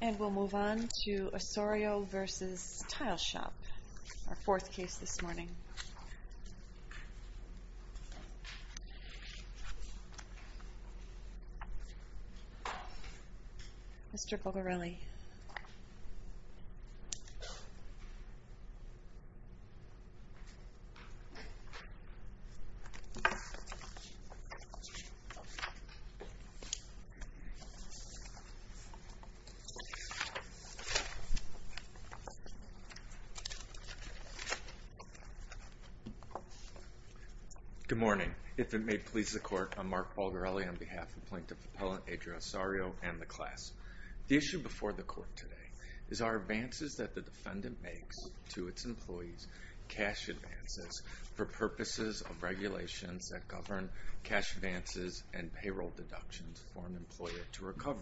And we'll move on to Osorio v. Tile Shop, our fourth case this morning. Good morning. If it may please the court, I'm Mark Balgarelli on behalf of Plaintiff Appellant Adriel Osorio and the class. The issue before the court today is our advances that the defendant makes to its employees, cash advances, for purposes of regulations that govern cash advances and payroll deductions for an employer to recover.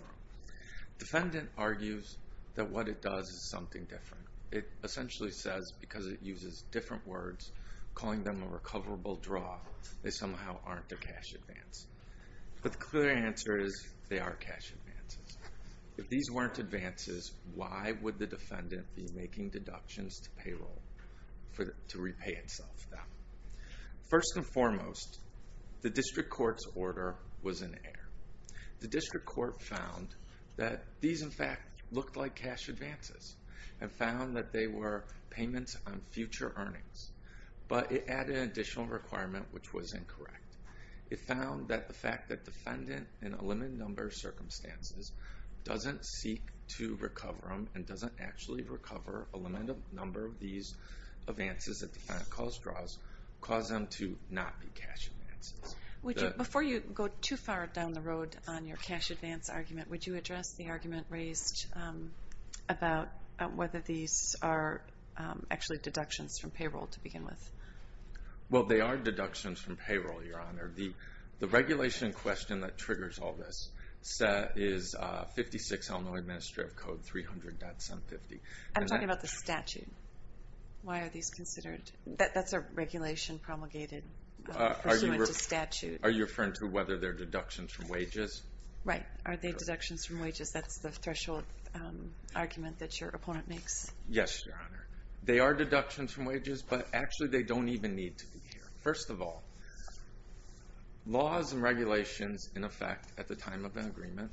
Defendant argues that what it does is something different. It essentially says, because it uses different words, calling them a recoverable draw, they somehow aren't a cash advance. But the clear answer is they are cash advances. If these weren't advances, why would the defendant be making deductions to payroll to repay itself then? First and foremost, the district court's order was in error. The district court found that these, in fact, looked like cash advances and found that they were payments on future earnings. But it added an additional requirement, which was incorrect. It found that the fact that the defendant, in a limited number of circumstances, doesn't seek to recover them and doesn't actually recover a limited number of these advances that the defendant calls draws, caused them to not be cash advances. Before you go too far down the road on your cash advance argument, would you address the argument raised about whether these are actually deductions from payroll to begin with? Well, they are deductions from payroll, Your Honor. The regulation question that triggers all this is 56 Illinois Administrative Code 300.750. I'm talking about the statute. Why are these considered? That's a regulation promulgated pursuant to statute. Are you referring to whether they're deductions from wages? Right. Are they deductions from wages? That's the threshold argument that your opponent makes. Yes, Your Honor. They are deductions from wages, but actually they don't even need to be here. First of all, laws and regulations, in effect, at the time of an agreement.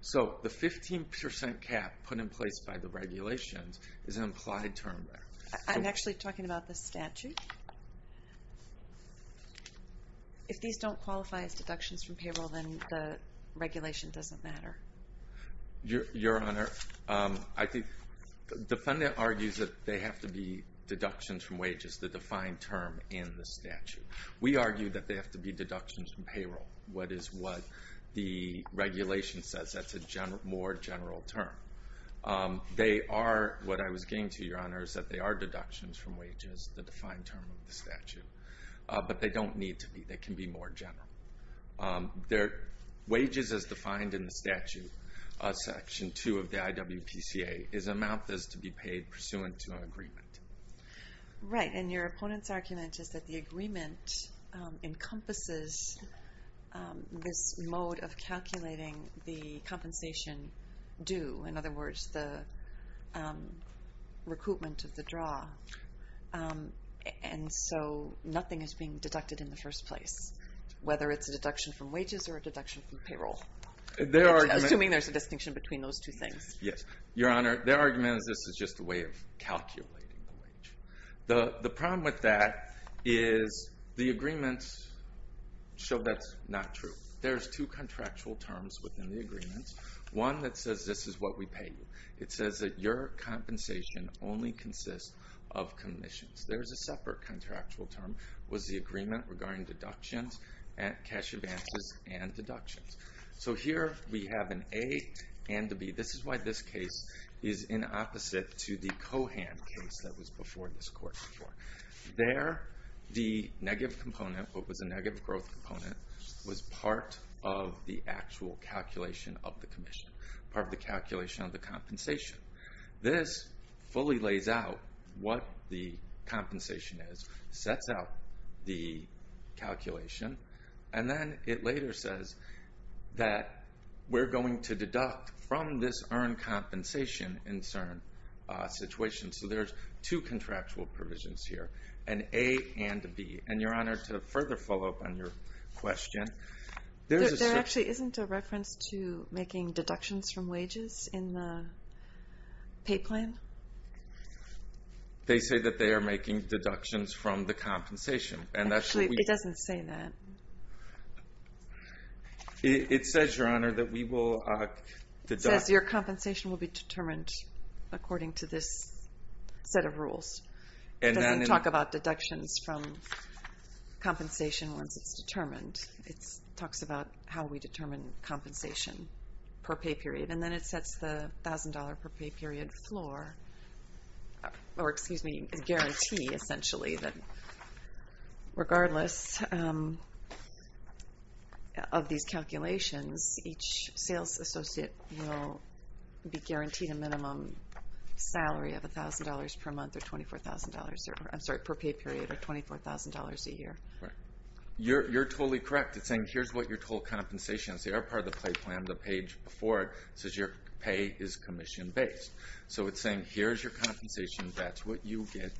So the 15% cap put in place by the regulations is an implied term. I'm actually talking about the statute. If these don't qualify as deductions from payroll, then the regulation doesn't matter. Your Honor, I think the defendant argues that they have to be deductions from wages, the defined term in the statute. We argue that they have to be deductions from payroll, what is what the regulation says. That's a more general term. They are, what I was getting to, Your Honor, is that they are deductions from wages, the defined term of the statute. But they don't need to be. They can be more general. Wages as defined in the statute, Section 2 of the IWPCA, is amount that is to be paid pursuant to an agreement. Right. And your opponent's argument is that the agreement encompasses this mode of calculating the compensation due. In other words, the recoupment of the draw. And so nothing is being deducted in the first place, whether it's a deduction from wages or a deduction from payroll. Assuming there's a distinction between those two things. Yes. Your Honor, their argument is this is just a way of calculating the wage. The problem with that is the agreements show that's not true. There's two contractual terms within the agreement. One that says this is what we pay you. It says that your compensation only consists of commissions. There's a separate contractual term, was the agreement regarding deductions and cash advances and deductions. So here we have an A and a B. This is why this case is in opposite to the Cohan case that was before this court. There, the negative component, what was a negative growth component, was part of the actual calculation of the commission. Part of the calculation of the compensation. This fully lays out what the from this earned compensation in certain situations. So there's two contractual provisions here, an A and a B. And your Honor, to further follow up on your question. There actually isn't a reference to making deductions from wages in the pay plan? They say that they are making deductions from the compensation. And actually, it doesn't say that. It says, Your Honor, that we will deduct. It says your compensation will be determined according to this set of rules. It doesn't talk about deductions from compensation once it's determined. It talks about how we determine compensation per pay period. And then it sets the $1,000 per pay period floor, or excuse me, guarantee, essentially, that regardless of these calculations, each sales associate will be guaranteed a minimum salary of $1,000 per month or $24,000, I'm sorry, per pay period, or $24,000 a year. You're totally correct in saying here's your total compensation. It's the other part of the pay plan, the page before it, says your pay is commission-based. So it's saying here's your compensation, that's what you get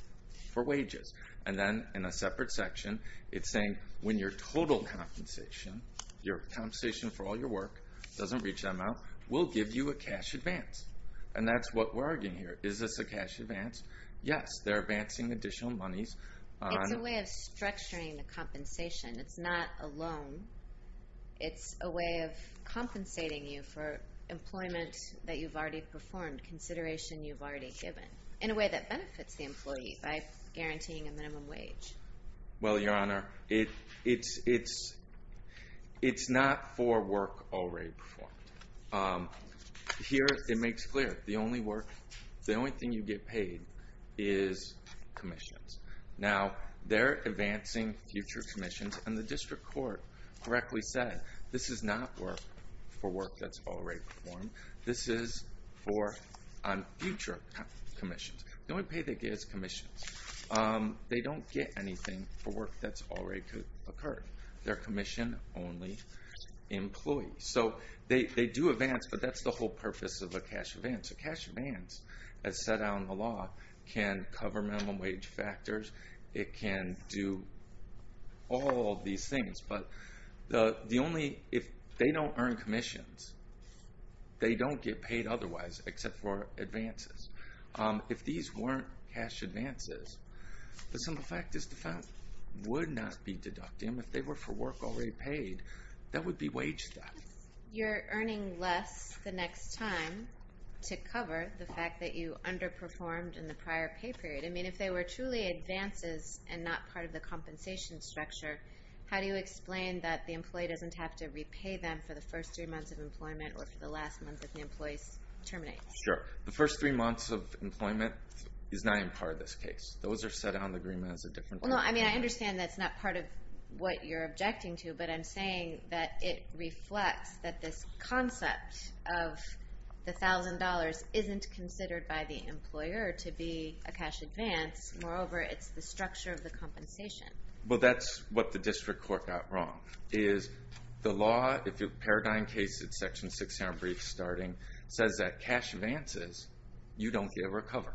for wages. And then in a separate section, it's saying when your total compensation, your compensation for all your work, doesn't reach that amount, we'll give you a cash advance. And that's what we're arguing here. Is this a cash advance? Yes, they're advancing additional monies. It's a way of structuring the compensation. It's not a loan. It's a way of compensating you for employment that you've already performed, consideration you've already given, in a way that benefits the employee by guaranteeing a minimum wage. Well, Your Honor, it's not for work already performed. Here, it makes clear. The only work, you get paid, is commissions. Now, they're advancing future commissions, and the district court correctly said this is not work for work that's already performed. This is for future commissions. The only pay they get is commissions. They don't get anything for work that's already occurred. They're commission-only employees. So they do advance, but that's the whole purpose of a cash advance. A cash advance, as set out in the law, can cover minimum wage factors. It can do all these things. But the only, if they don't earn commissions, they don't get paid otherwise, except for advances. If these weren't cash advances, the simple fact is the fine would not be deducted. If they were for work already paid, that would be wage theft. You're earning less the next time to cover the fact that you underperformed in the prior pay period. I mean, if they were truly advances and not part of the compensation structure, how do you explain that the employee doesn't have to repay them for the first three months of employment or for the last month if the employee terminates? Sure. The first three months of employment is not even part of this case. Those are set out in the agreement as a different thing. No, I mean, I understand that's not part of what you're objecting to, but I'm saying that it reflects that this concept of the $1,000 isn't considered by the employer to be a cash advance. Moreover, it's the structure of the compensation. Well, that's what the district court got wrong, is the law, if your paradigm case, it's section 600 brief starting, says that cash advances, you don't get a recovery.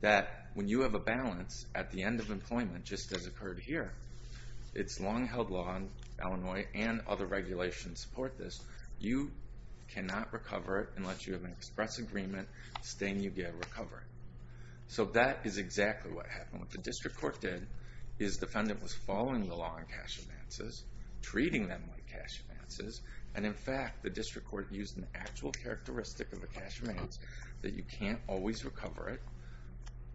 That when you have a balance at the end of employment, just as occurred here, it's long held law in Illinois and other regulations support this. You cannot recover it unless you have an express agreement stating you get a recovery. So that is exactly what happened. What the district court did is the defendant was following the law on cash advances, treating them like cash advances, and in fact, the district court used an actual characteristic of a cash advance, that you can't always recover it,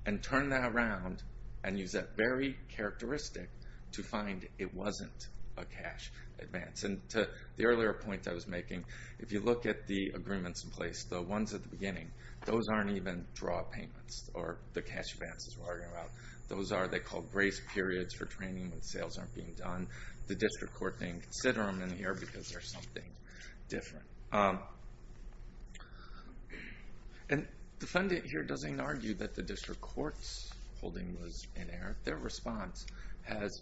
and turn that around and use that very characteristic to find it wasn't a cash advance. And to the earlier point I was making, if you look at the agreements in place, the ones at the beginning, those aren't even draw payments or the cash advances we're arguing about. Those are, they're called grace periods for training when sales aren't being done. The district court didn't consider them in here because they're something different. And the defendant here doesn't argue that the district court's holding was inerrant. Their response has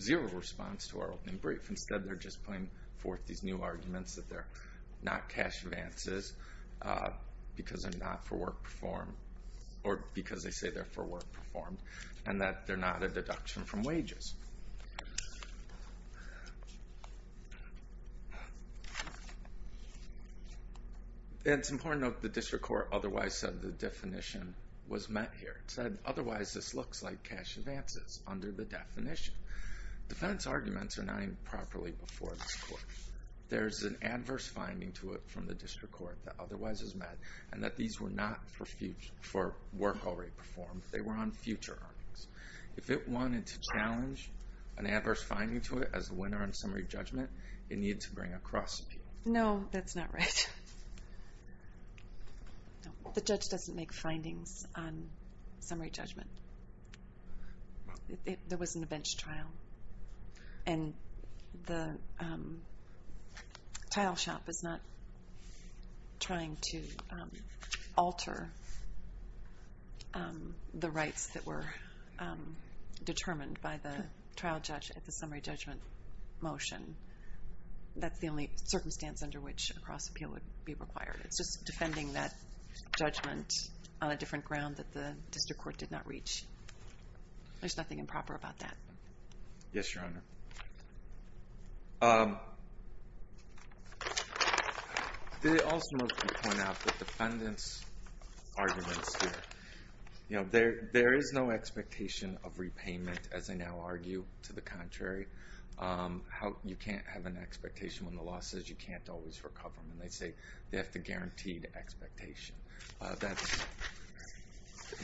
zero response to our opening brief. Instead, they're just putting forth these new arguments that they're not cash advances because they're not for work performed, or because they say they're for work performed, and that they're not a deduction from wages. And it's important to note that the district court otherwise said the definition was met here. It said, otherwise this looks like cash advances under the definition. Defendant's arguments are not even properly before this court. There's an adverse finding to it from the district court that otherwise is met, and that these were not for work already performed. They were on future earnings. If it wanted to challenge an adverse finding to it as a winner in summary judgment, it needed to bring a cross appeal. No, that's not right. The judge doesn't make findings on summary judgment. There wasn't a bench trial. And the title shop is not trying to alter the rights that were determined by the trial judge at the time. That's the only circumstance under which a cross appeal would be required. It's just defending that judgment on a different ground that the district court did not reach. There's nothing improper about that. Yes, Your Honor. They also want to point out the defendant's arguments here. There is no expectation of an expectation when the law says you can't always recover them. And they say they have the guaranteed expectation.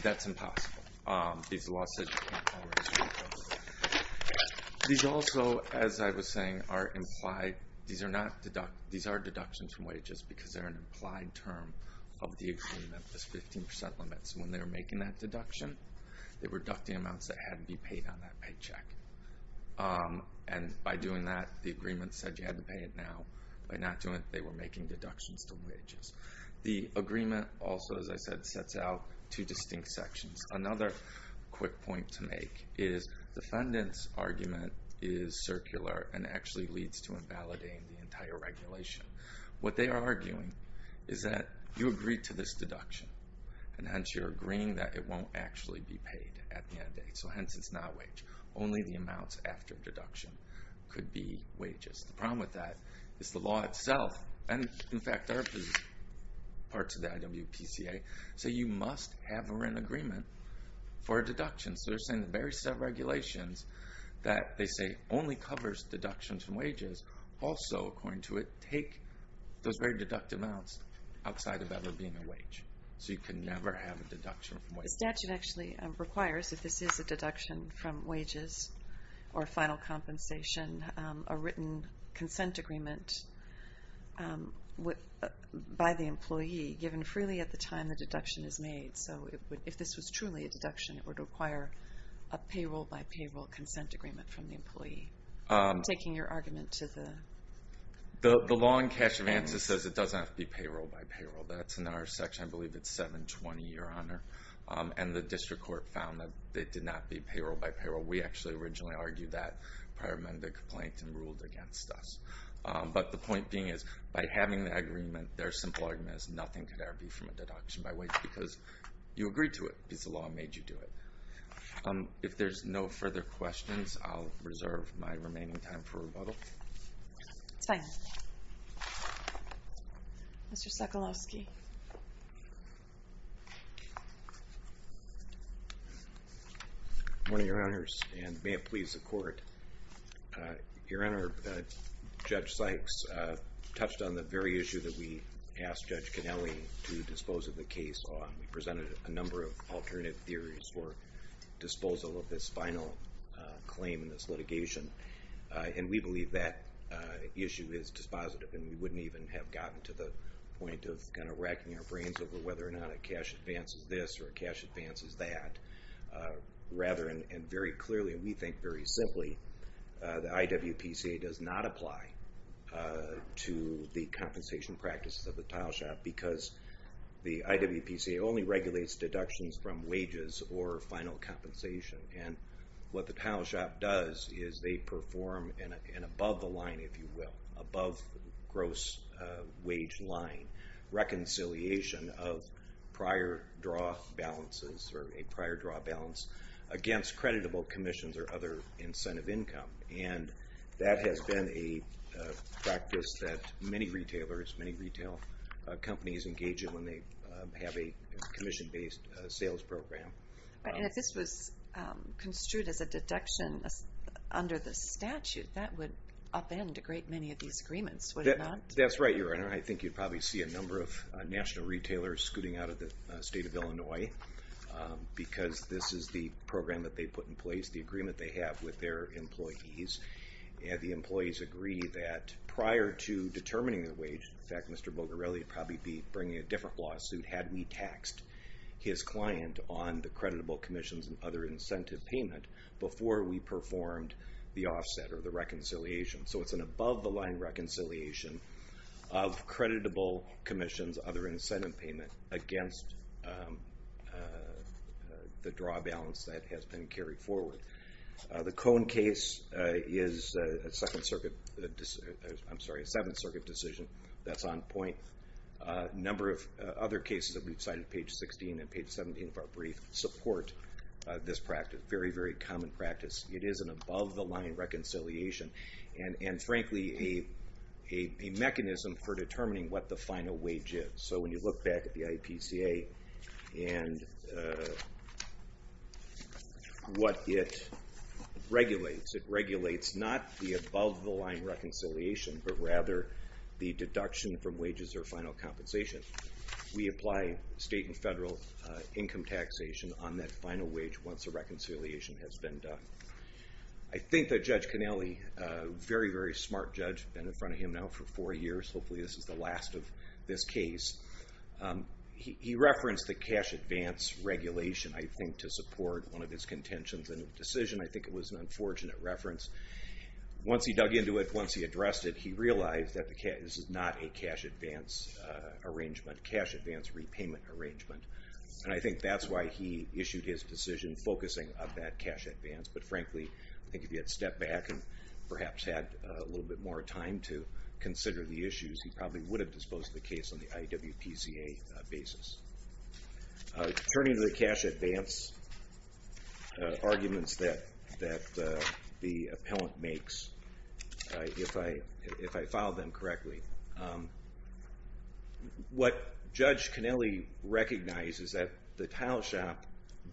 That's impossible. These also, as I was saying, these are deductions from wages because they're an implied term of the agreement. There's 15% limits. When they were making that deduction, they were deducting amounts that hadn't been paid on that paycheck. And by doing that, the agreement said you had to pay it now. By not doing it, they were making deductions to wages. The agreement also, as I said, sets out two distinct sections. Another quick point to make is defendant's argument is circular and actually leads to invalidating the entire regulation. What they are arguing is that you agree to this deduction and hence you're agreeing that it won't actually be paid at the end date. So hence it's not wage. Only the amounts after deduction could be wages. The problem with that is the law itself, and in fact there are parts of the IWPCA, say you must have a rent agreement for a deduction. So they're saying the very set of regulations that they say only covers deductions from wages also, according to it, take those very deducted amounts outside of ever being a wage. So you can never have a deduction from wages or final compensation, a written consent agreement by the employee given freely at the time the deduction is made. So if this was truly a deduction, it would require a payroll-by-payroll consent agreement from the employee. Taking your argument to the... The law in cash advances says it doesn't have to be payroll-by-payroll. That's in our section, I believe it's 720, Your Honor. And the district court found that it did not be payroll-by-payroll. We actually originally argued that prior to the complaint and ruled against us. But the point being is by having the agreement, their simple argument is nothing could ever be from a deduction by wage because you agreed to it because the law made you do it. If there's no further questions, I'll reserve my remaining time for rebuttal. It's fine. Mr. Sekulowski. Good morning, Your Honors, and may it please the court. Your Honor, Judge Sykes touched on the very issue that we asked Judge Connelly to dispose of the case on. We presented a number of alternate theories for disposal of this final claim in this litigation. And we believe that issue is dispositive and we wouldn't even have gotten to the point of kind of racking our brains over whether or not a cash advance is this or a cash advance is that. Rather, and very clearly, we think very simply, the IWPCA does not apply to the compensation practices of the tile shop because the IWPCA only regulates deductions from wages or final compensation. And what the tile shop does is they gross wage line reconciliation of prior draw balances or a prior draw balance against creditable commissions or other incentive income. And that has been a practice that many retailers, many retail companies engage in when they have a commission-based sales program. And if this was construed as a deduction under the statute, that would upend a great many of the agreements, would it not? That's right, Your Honor. I think you'd probably see a number of national retailers scooting out of the state of Illinois because this is the program that they put in place, the agreement they have with their employees. And the employees agree that prior to determining the wage, in fact, Mr. Bogarelli would probably be bringing a different lawsuit had we taxed his client on the creditable commissions and other incentive payment before we performed the offset or the reconciliation. So it's an above-the-line reconciliation of creditable commissions, other incentive payment, against the draw balance that has been carried forward. The Cone case is a Second Circuit, I'm sorry, a Seventh Circuit decision that's on point. A number of other cases that we've cited, page 16 and page 17 of our brief, support this practice, very, very common practice. It is an above-the-line reconciliation and frankly a mechanism for determining what the final wage is. So when you look back at the IPCA and what it regulates, it regulates not the above-the-line reconciliation but rather the deduction from wages or final compensation. We apply state and federal income taxation on that final wage once the reconciliation has been done. I think that Judge Conelli, a very, very smart judge, been in front of him now for four years, hopefully this is the last of this case, he referenced the cash advance regulation, I think, to support one of his contentions in the decision. I think it was an unfortunate reference. Once he dug into it, once he addressed it, he realized that this is not a cash advance arrangement, cash advance repayment arrangement, and I think that's why he issued his decision focusing on that cash advance. But frankly, I think if he had stepped back and perhaps had a little bit more time to consider the issues, he probably would have disposed of the case on the IWPCA basis. Turning to the cash advance arguments that the appellant makes, if I filed them correctly, what Judge Conelli recognizes that the tile shop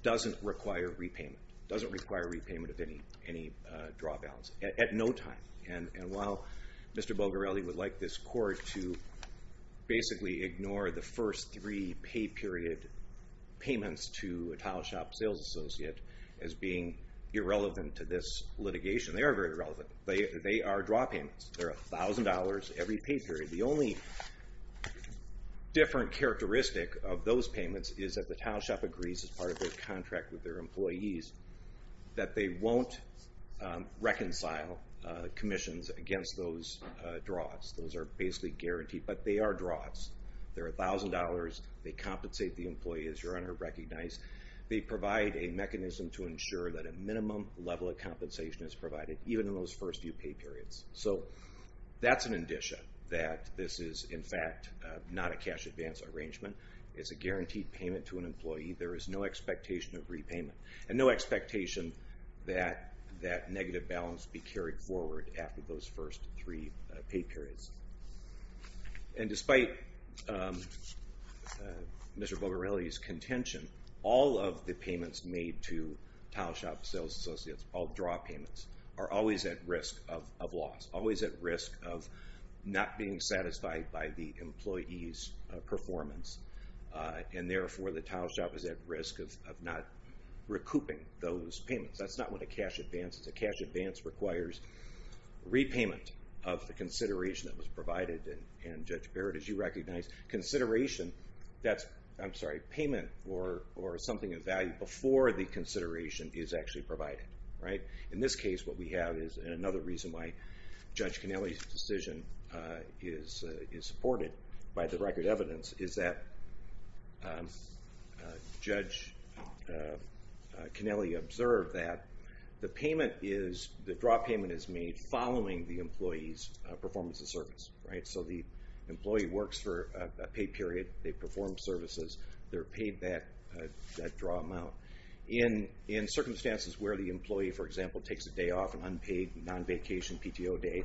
doesn't require repayment, doesn't require repayment of any draw balance, at no time. And while Mr. Bogarelli would like this court to basically ignore the first three pay period payments to a tile shop sales associate as being irrelevant to this litigation, they are very relevant. They are draw payments. They're $1,000 every pay period. The only different characteristic of those payments is that the tile shop agrees as part of their contract with their employees that they won't reconcile commissions against those draws. Those are basically guaranteed, but they are draws. They're $1,000. They compensate the employee as your Honor recognized. They provide a mechanism to ensure that a minimum level of compensation is provided even in those first few pay periods. So that's an addition that this is in fact not a cash advance arrangement. It's a guaranteed payment to an employee. There is no expectation of repayment and no expectation that that negative balance be carried forward after those first three pay periods. And despite Mr. Bogarelli's contention, all of the payments made to tile shop sales associates, all draw payments, are always at risk of loss, always at risk of not being satisfied by the employee's performance. And therefore, the tile shop is at risk of not recouping those payments. That's not what a cash advance is. A cash advance requires repayment of the consideration that was provided, and Judge Barrett, as you recognize, consideration, I'm sorry, payment or something of value before the consideration is actually provided. In this case, what we have is, and another reason why Judge Kennelly's decision is supported by the record evidence, is that Judge Kennelly observed that the payment is, the draw payment is made following the employee's performance of service, right? So the employee works for a pay period, they perform services, they're paid that draw amount. In circumstances where the employee, for example, takes a day off, an unpaid non-vacation PTO day,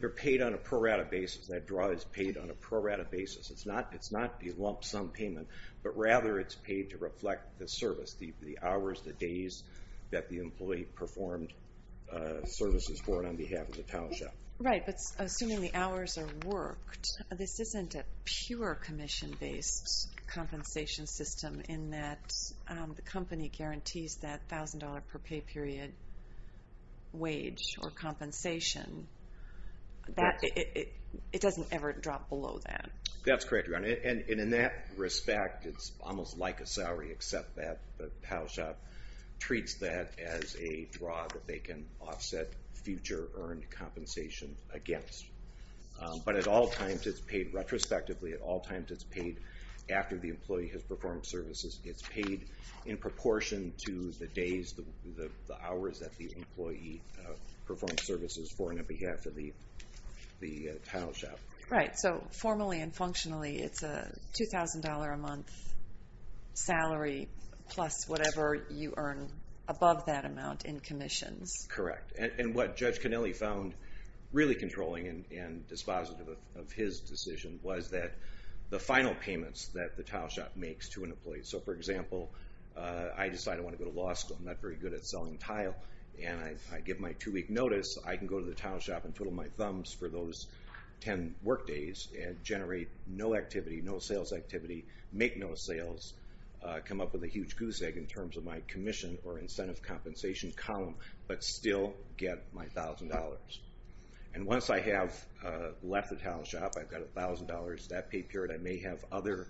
they're paid on a pro-rata basis. That draw is paid on a pro-rata basis. It's not the lump sum payment. But rather, it's paid to reflect the service, the hours, the days that the employee performed services for and on behalf of the tile shop. Right, but assuming the hours are worked, this isn't a pure commission-based compensation system in that the company guarantees that $1,000 per pay period wage or compensation. It doesn't ever drop below that. That's correct, Your Honor. And in that respect, it's almost like a salary, except that the tile shop treats that as a draw that they can offset future earned compensation against. But at all times, it's paid retrospectively. At all times, it's paid after the employee has performed services. It's paid in proportion to the days, the hours that the employee performed services for and on behalf of the tile shop. Right. So formally and functionally, it's a $2,000 a month salary plus whatever you earn above that amount in commissions. Correct. And what Judge Connelly found really controlling and dispositive of his decision was that the final payments that the tile shop makes to an employee. So for example, I decide I want to go to law school. I'm not very good at selling tile. And I give my two-week notice. I can go to tile shop and twiddle my thumbs for those 10 work days and generate no activity, no sales activity, make no sales, come up with a huge goose egg in terms of my commission or incentive compensation column, but still get my $1,000. And once I have left the tile shop, I've got $1,000. That pay period, I may have other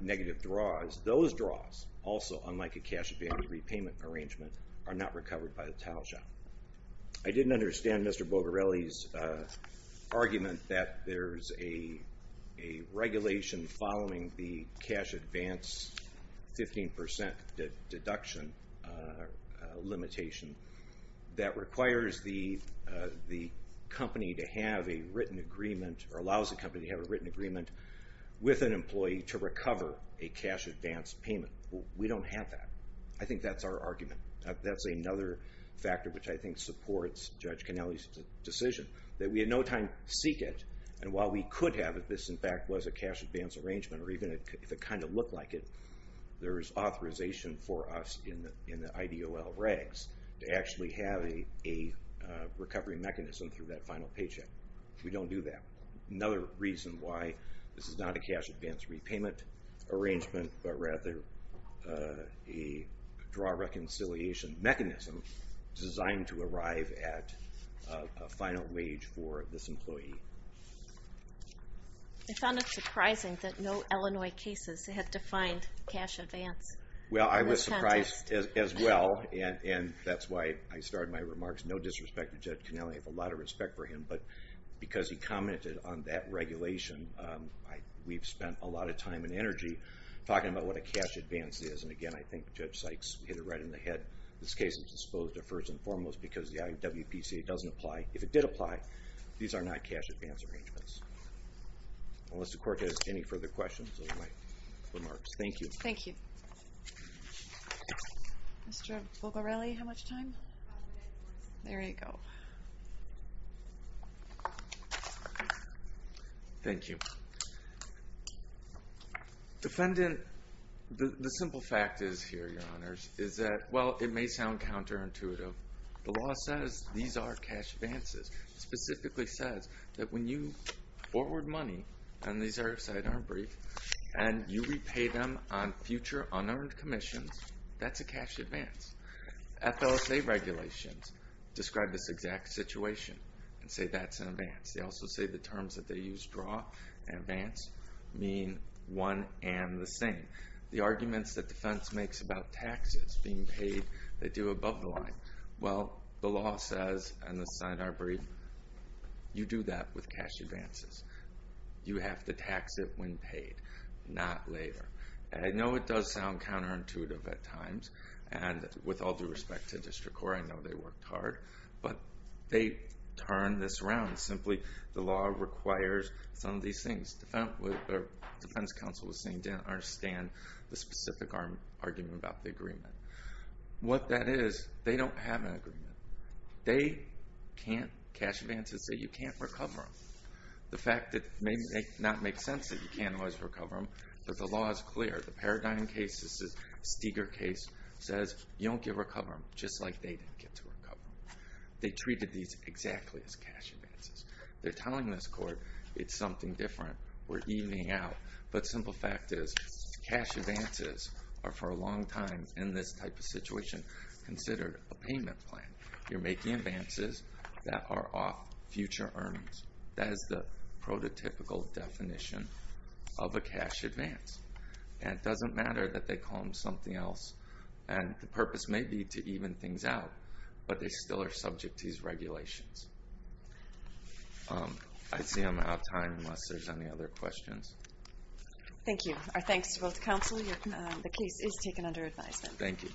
negative draws. Those draws also, unlike a cash advantage repayment arrangement, are not recovered by the tile shop. I didn't understand Mr. Bogarelli's argument that there's a regulation following the cash advance 15% deduction limitation that requires the company to have a written agreement or allows the company to have a written agreement with an employee to recover a cash advance payment. We don't have that. I think that's our argument. That's another factor which I think supports Judge Cannelly's decision, that we had no time to seek it. And while we could have it, this in fact was a cash advance arrangement, or even if it kind of looked like it, there is authorization for us in the IDOL regs to actually have a recovery mechanism through that final paycheck. We don't do that. Another reason why this is not a cash advance repayment arrangement, but rather a draw reconciliation mechanism designed to arrive at a final wage for this employee. I found it surprising that no Illinois cases had defined cash advance. Well, I was surprised as well, and that's why I started my remarks. No disrespect to Judge Cannelly, I have a lot of respect for him, but because he commented on that regulation, we've spent a lot of time and energy talking about what a cash advance is. And again, I think Judge Sykes hit it right in the head. This case was disposed of first and foremost because the IWPCA doesn't apply. If it did apply, these are not cash advance arrangements. Unless the court has any further questions of my remarks. Thank you. Thank you. Mr. Bogarelli, how much time? There you go. Thank you. Defendant, the simple fact is here, your honors, is that, well, it may sound counterintuitive. The law says these are cash advances. Specifically says that when you forward money, and these are sidearm brief, and you repay them on future unearned commissions, that's a cash advance. FLSA regulations describe this exact situation and say that's an advance. They also say the terms that they use, draw and advance, mean one and the same. The arguments that defense makes about taxes being paid, they do above the line. Well, the law says, and the sidearm brief, you do that with cash advances. You have to tax it when paid, not later. I know it does sound counterintuitive at times, and with all due respect to district court, I know they worked hard, but they turned this around. Simply, the law requires some of these things. Defense counsel was saying they didn't understand the specific argument about the agreement. What that is, they don't have an agreement. They can't cash advances, so you can't recover them. The fact that it may not make sense that you can't always recover them, but the law is clear. The Paradigm case, this is a Steger case, says you don't get to recover them, just like they didn't get to recover them. They treated these exactly as cash advances. They're telling this court it's something different. We're evening out, but simple fact is, cash advances are for a long time, in this type of situation, considered a payment plan. You're making advances that are off future earnings. That is the matter, that they call them something else. The purpose may be to even things out, but they still are subject to these regulations. I see I'm out of time, unless there's any other questions. Thank you. Our thanks to both counsel. The case is taken under advisement. Thank you.